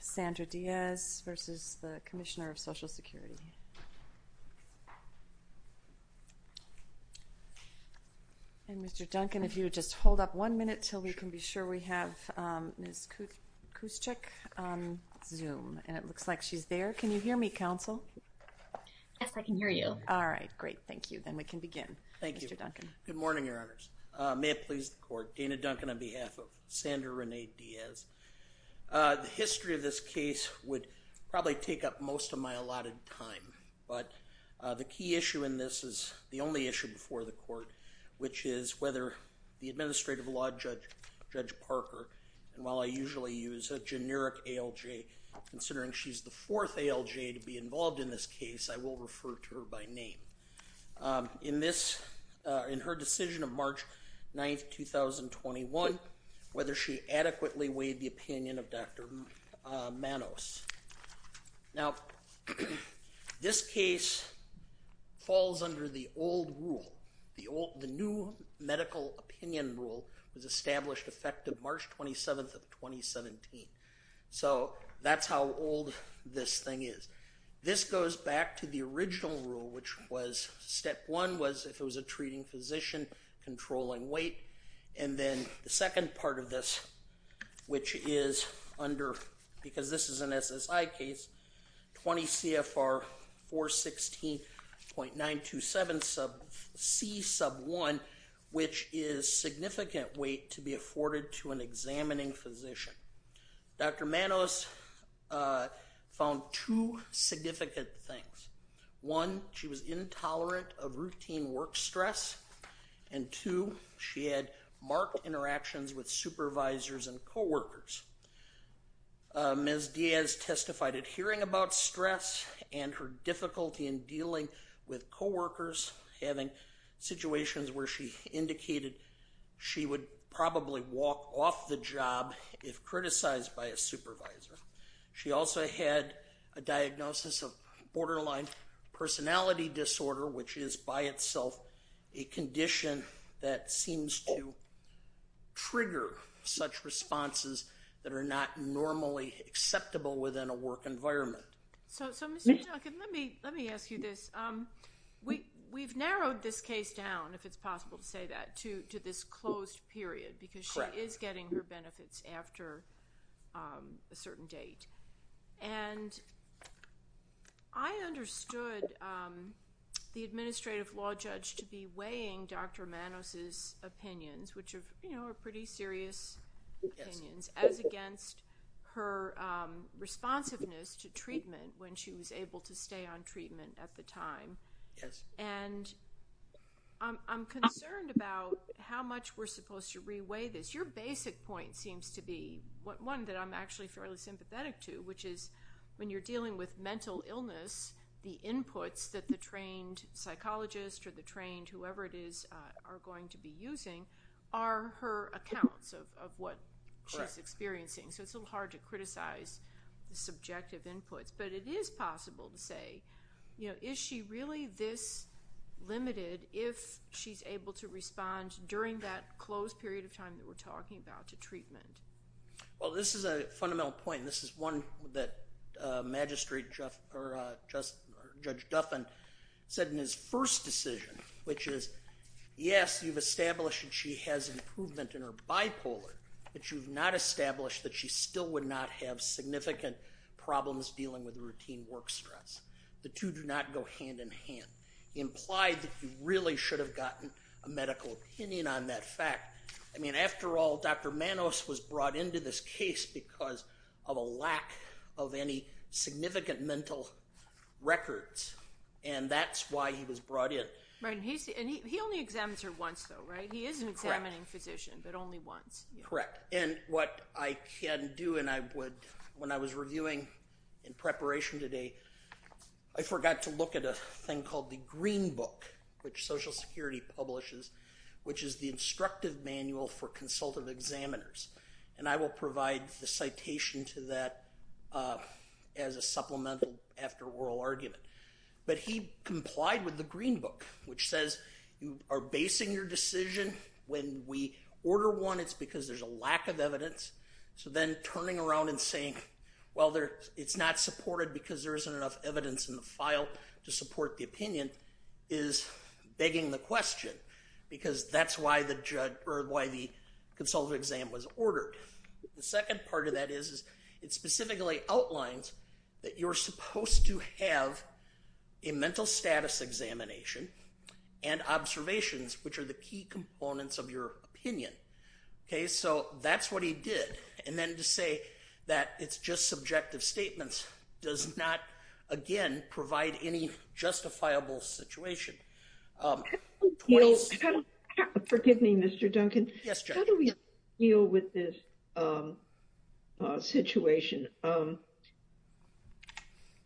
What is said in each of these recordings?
Sandra Diaz versus the Commissioner of Social Security and Mr. Duncan if you would just hold up one minute till we can be sure we have Ms. Kuchick on zoom and it looks like she's there can you hear me counsel yes I can hear you all right great thank you then we can begin thank you Duncan good morning your of Sandra Renee Diaz the history of this case would probably take up most of my allotted time but the key issue in this is the only issue before the court which is whether the administrative law judge Judge Parker and while I usually use a generic ALJ considering she's the fourth ALJ to be involved in this case I will decision of March 9th 2021 whether she adequately weighed the opinion of dr. Manos now this case falls under the old rule the old the new medical opinion rule was established effective March 27th of 2017 so that's how old this thing is this goes back to the original rule which was step one was if it was a treating physician controlling weight and then the second part of this which is under because this is an SSI case 20 CFR 416 point nine two seven sub C sub one which is significant weight to be afforded to an examining physician dr. Manos found two significant things one she was intolerant of routine work and stress and to she had marked interactions with supervisors and co-workers as Diaz testified at hearing about stress and her difficulty in dealing with co-workers having situations where she indicated she would probably walk off the job if criticized by a supervisor she also had a diagnosis of borderline personality disorder which is by itself a condition that seems to trigger such responses that are not normally acceptable within a work environment so let me let me ask you this we we've narrowed this case down if it's possible to say that to to this closed period because she is getting her I understood the administrative law judge to be weighing dr. Manos's opinions which have you know are pretty serious opinions as against her responsiveness to treatment when she was able to stay on treatment at the time yes and I'm concerned about how much we're supposed to reweigh this your basic point seems to be what one that I'm actually fairly sympathetic to which is when you're dealing with mental illness the inputs that the trained psychologist or the trained whoever it is are going to be using are her accounts of what she's experiencing so it's a little hard to criticize the subjective inputs but it is possible to say you know is she really this limited if she's able to respond during that closed period of time that we're talking about to treatment well this is a fundamental point this is one that magistrate Jeff or just judge Duffin said in his first decision which is yes you've established and she has improvement in her bipolar but you've not established that she still would not have significant problems dealing with routine work stress the two do not go hand-in-hand implied that you really should have gotten a medical opinion on that fact I mean after all dr. Manos was brought into this case because of a lack of any significant mental records and that's why he was brought in right and he only examines her once though right he is an examining physician but only once correct and what I can do and I would when I was reviewing in preparation today I forgot to look at a thing called the Green Book which Social Security publishes which is the instructive manual for consultative examiners and I will provide the citation to that as a supplemental after oral argument but he complied with the Green Book which says you are basing your decision when we order one it's because there's a lack of evidence so then turning around and saying well there it's not supported because there isn't enough evidence in the file to opinion is begging the question because that's why the judge or why the consultative exam was ordered the second part of that is it specifically outlines that you're supposed to have a mental status examination and observations which are the key components of your opinion okay so that's what he did and then to say that it's just subjective statements does not again provide any justifiable situation forgive me mr. Duncan yes how do we deal with this situation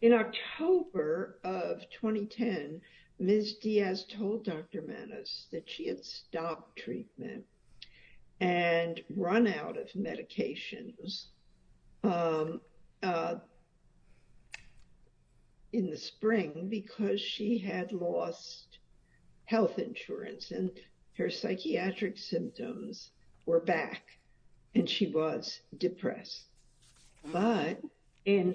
in October of 2010 mrs. Diaz told dr. menace that she had stopped treatment and run out of medications in the spring because she had lost health insurance and her psychiatric symptoms were back and she was depressed but in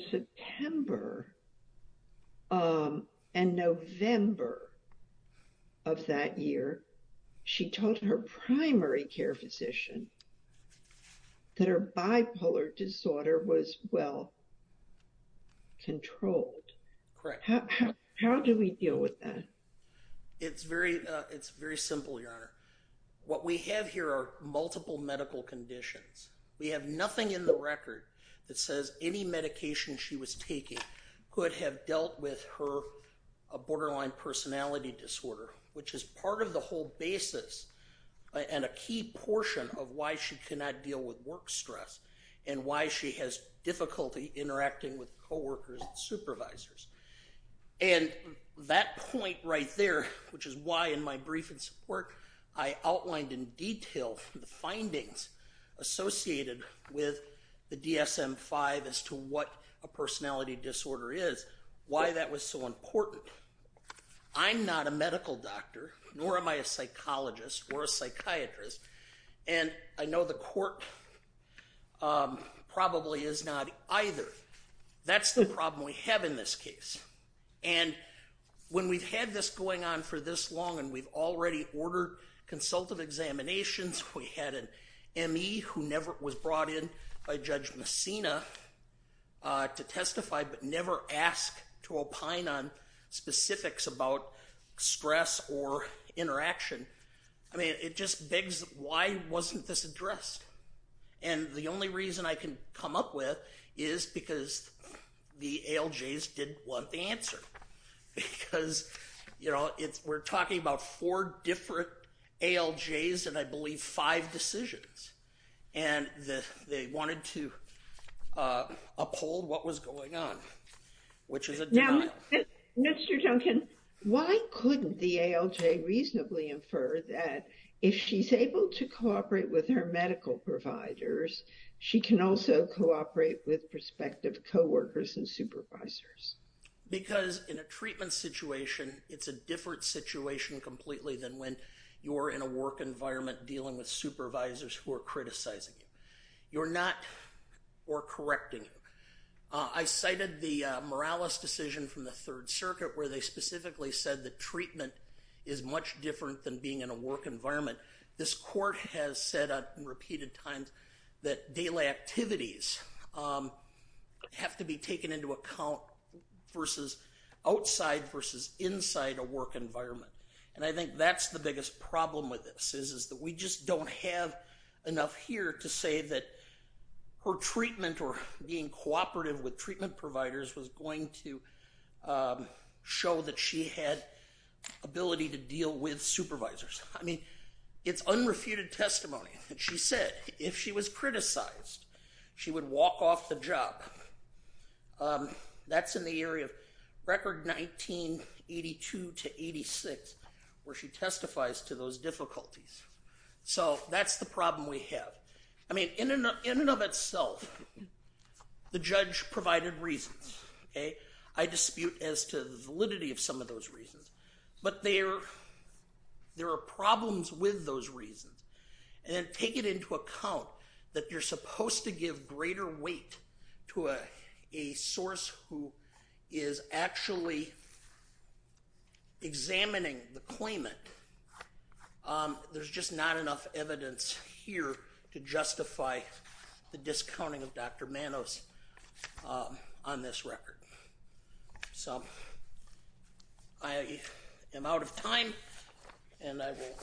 primary care physician that her bipolar disorder was well controlled correct how do we deal with that it's very it's very simple your honor what we have here are multiple medical conditions we have nothing in the record that says any medication she was taking could have dealt with her a borderline personality disorder which is part of the whole basis and a key portion of why she cannot deal with work stress and why she has difficulty interacting with co-workers and supervisors and that point right there which is why in my brief and support I outlined in detail the findings associated with the DSM 5 as a medical doctor and I know the court probably is not either that's the problem we have in this case and when we've had this going on for this long and we've already ordered consultive examinations we had an ME who never was brought in by judge Messina to testify but never asked to opine on specifics about stress or interaction I mean it just begs why wasn't this addressed and the only reason I can come up with is because the ALJs didn't want the answer because you know it's we're talking about four different ALJs and I believe five decisions and the they wanted to uphold what was going on which is a Mr. Duncan why couldn't the ALJ reasonably infer that if she's able to cooperate with her medical providers she can also cooperate with prospective co-workers and supervisors because in a treatment situation it's a different situation completely than when you're in a work environment dealing with supervisors who are criticizing you you're not or correcting I cited the Morales decision from the Third Circuit where they specifically said the treatment is much different than being in a work environment this court has said on repeated times that daily activities have to be taken into account versus outside versus inside a work environment and I think that's the biggest problem with this is is that we just don't have enough here to say that her treatment or being cooperative with treatment providers was going to show that she had ability to deal with supervisors I mean it's unrefuted testimony and she said if she was criticized she would walk off the job that's in the area of record 1982 to 86 where she testifies to those in and of itself the judge provided reasons okay I dispute as to the validity of some of those reasons but there there are problems with those reasons and take it into account that you're supposed to give greater weight to a source who is actually examining the claimant there's just not enough evidence here to justify the discounting of dr. Manos on this record so I am out of time and I will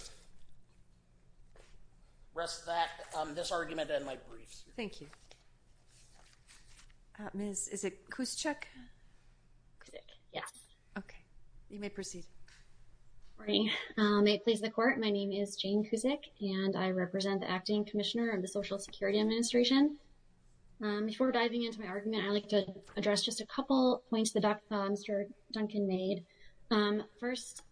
rest that this argument in my briefs thank you miss is it Kuznick yeah okay you may proceed may please the court my name is Jane Kuznick and I represent the acting commissioner of the Social Security Administration before diving into my argument I like to address just a couple points the doctor mr. Duncan made first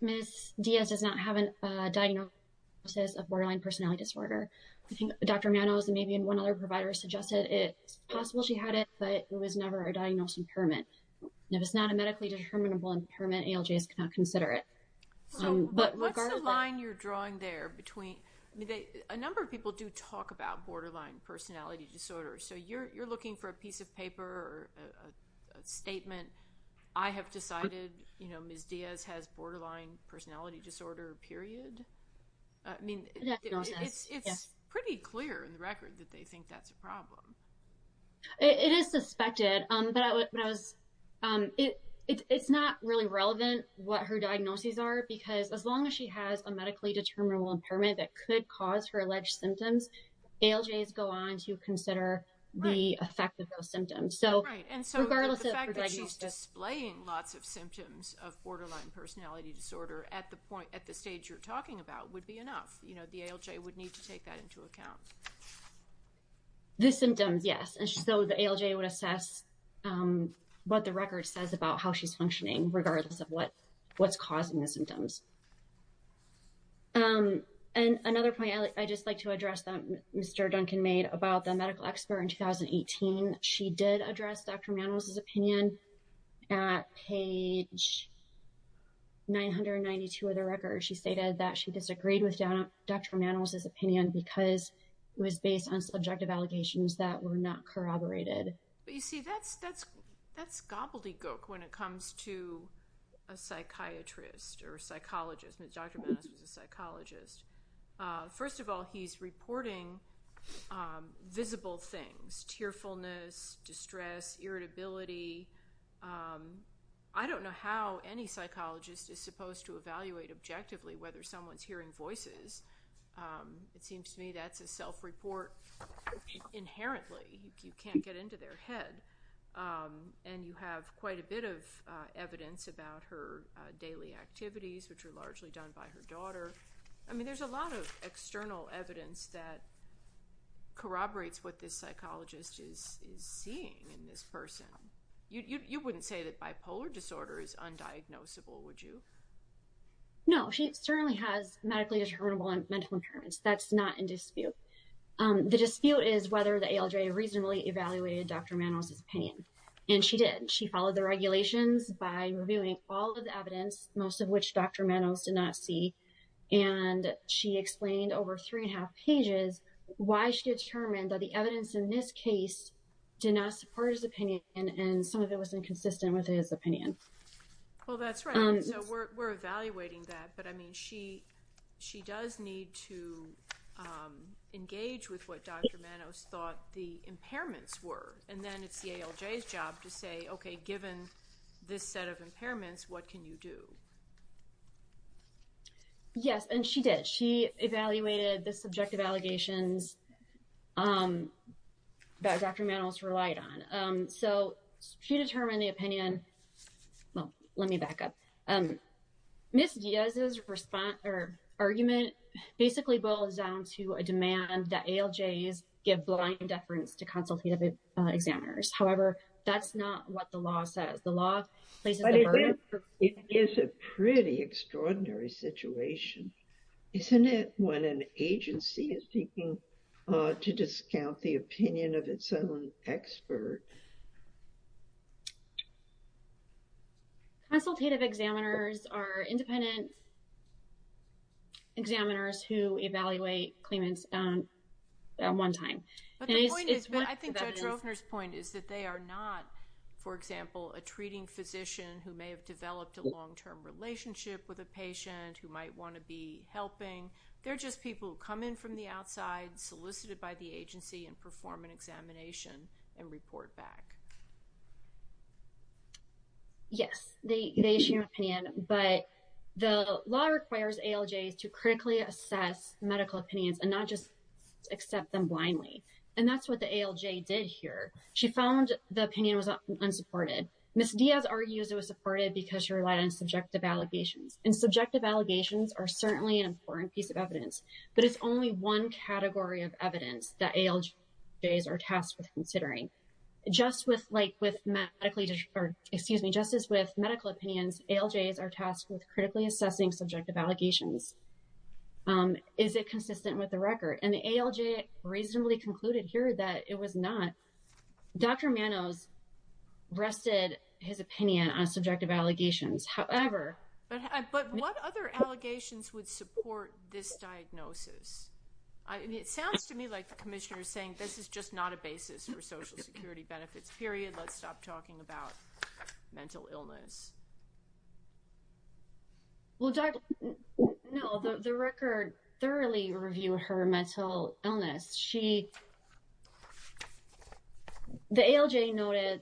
miss Diaz does not have a diagnosis of borderline personality disorder I think dr. Manos and maybe in one other provider suggested it possible she had it but it was never a diagnosed impairment if it's not a medically determinable impairment ALJs cannot consider it but what's the line you're drawing there between a number of people do talk about borderline personality disorder so you're you're looking for a piece of paper or a statement I have decided you know ms. Diaz has borderline personality disorder period I mean it's pretty clear in the record that they think that's a problem it is suspected but I was it it's not really relevant what her diagnoses are because as long as she has a medically determinable impairment that could cause her alleged symptoms ALJs go on to consider the effect of those symptoms so regardless of displaying lots of symptoms of borderline personality disorder at the point at the stage you're talking about would be enough you know the ALJ would take that into account the symptoms yes and so the ALJ would assess what the record says about how she's functioning regardless of what what's causing the symptoms and another point I just like to address them mr. Duncan made about the medical expert in 2018 she did address dr. Manos his opinion at page 992 of the record she stated that she disagreed with dr. Manos his opinion because it was based on subjective allegations that were not corroborated but you see that's that's that's gobbledygook when it comes to a psychiatrist or psychologist mr. Manos was a psychologist first of all he's reporting visible things tearfulness distress irritability I don't know how any psychologist is supposed to evaluate objectively whether someone's hearing voices it seems to me that's a self report inherently you can't get into their head and you have quite a bit of evidence about her daily activities which are largely done by her daughter I mean there's a lot of external evidence that corroborates what this psychologist is seeing in this person you wouldn't say that bipolar disorder is diagnosable would you know she certainly has medically determinable and mental impairments that's not in dispute the dispute is whether the ALJ reasonably evaluated dr. Manos his pain and she did she followed the regulations by reviewing all of the evidence most of which dr. Manos did not see and she explained over three and a half pages why she determined that the evidence in this case did not support his opinion and some of it was inconsistent with his opinion well that's right we're evaluating that but I mean she she does need to engage with what dr. Manos thought the impairments were and then it's the ALJ's job to say okay given this set of impairments what can you do yes and she did she evaluated the subjective allegations that dr. Manos relied on so she determined the opinion well let me back up um miss Diaz's response or argument basically boils down to a demand that ALJ's give blind deference to consultative examiners however that's not what the law says the law it is a pretty extraordinary situation isn't it when an agency is seeking to discount the opinion of its own expert. Consultative examiners are independent examiners who evaluate claimants on one time. I think judge Rovner's point is that they are not for example a treating physician who may have developed a long-term relationship with a patient who might want to be helping they're just people who come in from the outside solicited by the agency and perform an examination and report back. Yes they issue an opinion but the law requires ALJ's to critically assess medical opinions and not just accept them blindly and that's what the ALJ did here she found the opinion was unsupported. Miss Diaz argues it was supported because she relied on subjective allegations and subjective allegations are certainly an important piece of evidence but it's only one category of evidence that ALJ's are tasked with considering. Just with like with medically or excuse me justice with medical opinions ALJ's are tasked with critically assessing subjective allegations. Is it consistent with the record and the ALJ reasonably concluded here that it was not. Dr. Manos rested his opinion on subjective allegations however. But what other allegations would support this diagnosis? It sounds to me like the Commissioner is saying this is just not a basis for Social Security benefits period let's stop talking about mental illness. Well no the record thoroughly reviewed her mental illness she the ALJ noted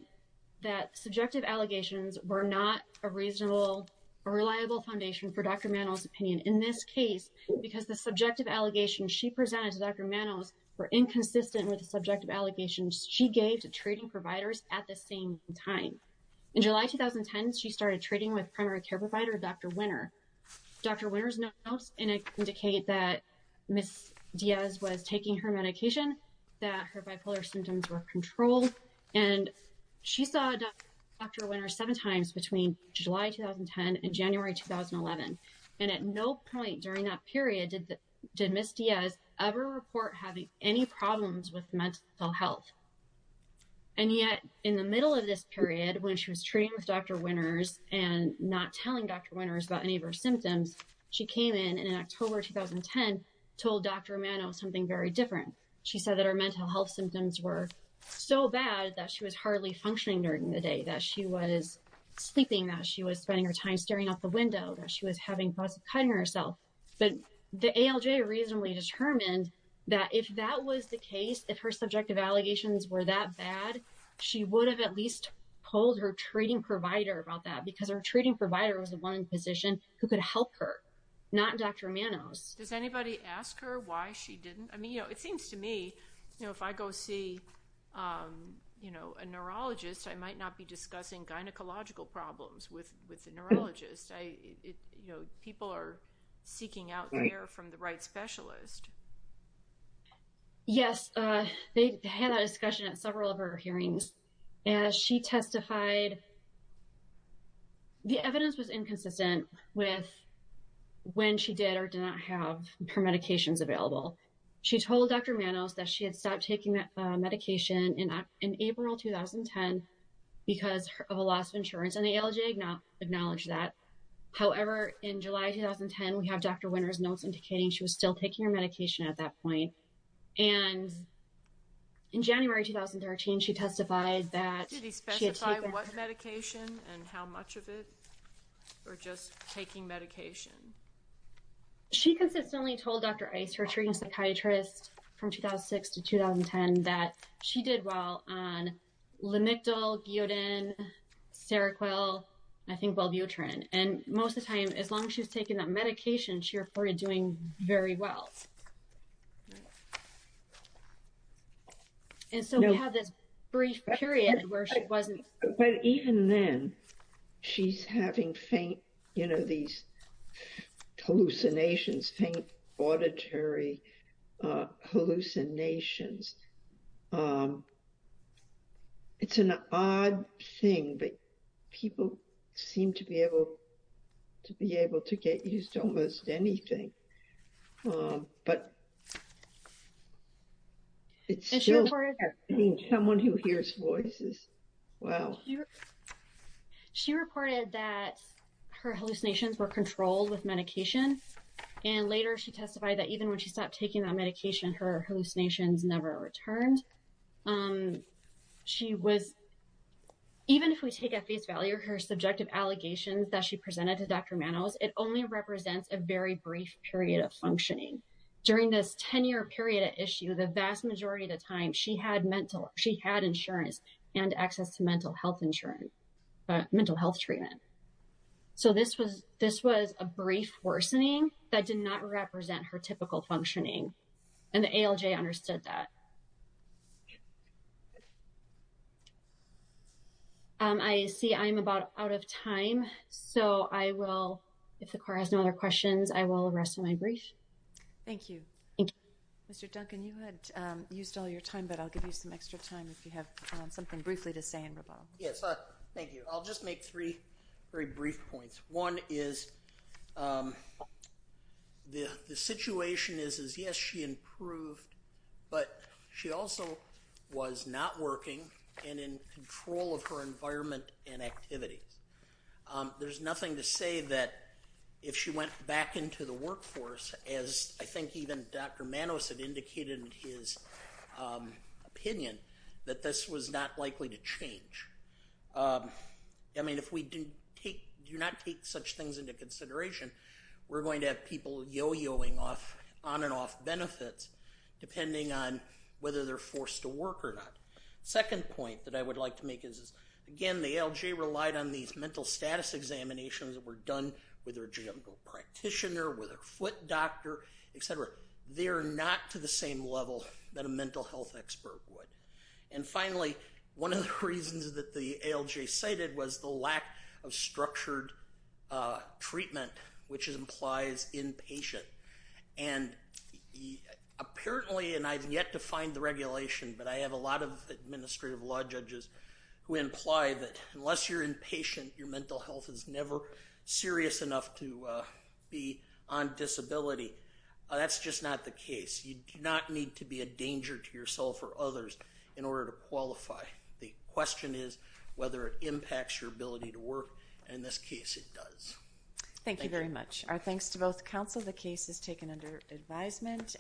that subjective allegations were not a reasonable a reliable foundation for Dr. Manos opinion in this case because the subjective allegations she presented to Dr. Manos were inconsistent with the subjective allegations she gave to treating providers at the same time. In July 2010 she started treating with primary care provider Dr. Winner. Dr. Diaz was taking her medication that her bipolar symptoms were controlled and she saw Dr. Winner seven times between July 2010 and January 2011 and at no point during that period did that did Miss Diaz ever report having any problems with mental health. And yet in the middle of this period when she was treating with Dr. Winners and not telling Dr. Winners about any of her symptoms she came in and in October 2010 told Dr. Manos something very different. She said that our mental health symptoms were so bad that she was hardly functioning during the day that she was sleeping that she was spending her time staring out the window that she was having thoughts of cutting herself. But the ALJ reasonably determined that if that was the case if her subjective allegations were that bad she would have at least told her treating provider about that because her treating provider was the one physician who could help her not Dr. Manos. Does anybody ask her why she didn't? I mean you know it seems to me you know if I go see you know a neurologist I might not be discussing gynecological problems with with the neurologist. You know people are seeking out there from the right specialist. Yes they had a discussion at several of her hearings. As she testified the evidence was inconsistent with when she did or did not have her medications available. She told Dr. Manos that she had stopped taking that medication in April 2010 because of a loss of insurance and the ALJ acknowledged that. However in July 2010 we have Dr. Winners notes indicating she was still taking her medication at that point. And in January 2013 she testified that she had taken her medication. Did he specify what medication and how much of it or just taking medication? She consistently told Dr. Ice, her treating psychiatrist from 2006 to 2010 that she did well on Lamictal, Giudin, Seroquel, I think Welbutrin. And most of the time as long as she was taking that But even then she's having faint you know these hallucinations, faint auditory hallucinations. It's an odd thing but people seem to be able to be able to get used to almost anything. But it's someone who hears voices. She reported that her hallucinations were controlled with medication and later she testified that even when she stopped taking that medication her hallucinations never returned. She was, even if we take at face value her subjective allegations that she presented to Dr. Manos, it only represents a very brief period of functioning. During this 10-year period of issue the vast majority of the time she had mental, she had insurance and access to mental health insurance, mental health treatment. So this was, this was a brief worsening that did not represent her typical functioning and the ALJ understood that. I see I'm about out of time so I will, if the court has no other questions, I will rest my brief. Thank you. Mr. Duncan you had used all your time but I'll give you some extra time if you have something briefly to say in rebuttal. Yes, thank you. I'll just make three very brief points. One is the the situation is is yes she improved but she also was not working and in control of her environment and activities. There's nothing to say that if she went back into the workforce as I think even Dr. Manos had indicated in his opinion that this was not likely to change. I mean if we didn't take, do not take such things into consideration we're going to have people yo-yoing off on and off benefits depending on whether they're forced to work or not. Second point that I would like to make is again the ALJ relied on these mental status examinations that were done with her general practitioner, with her foot doctor, etc. They're not to the same level that a mental health expert would. And finally one of the reasons that the ALJ cited was the lack of structured treatment which implies inpatient. And apparently and I've yet to find the regulation but I have a lot of administrative law judges who imply that on disability that's just not the case. You do not need to be a danger to yourself or others in order to qualify. The question is whether it impacts your ability to work and in this case it does. Thank you very much. Our thanks to both counsel. The case is taken under advisement.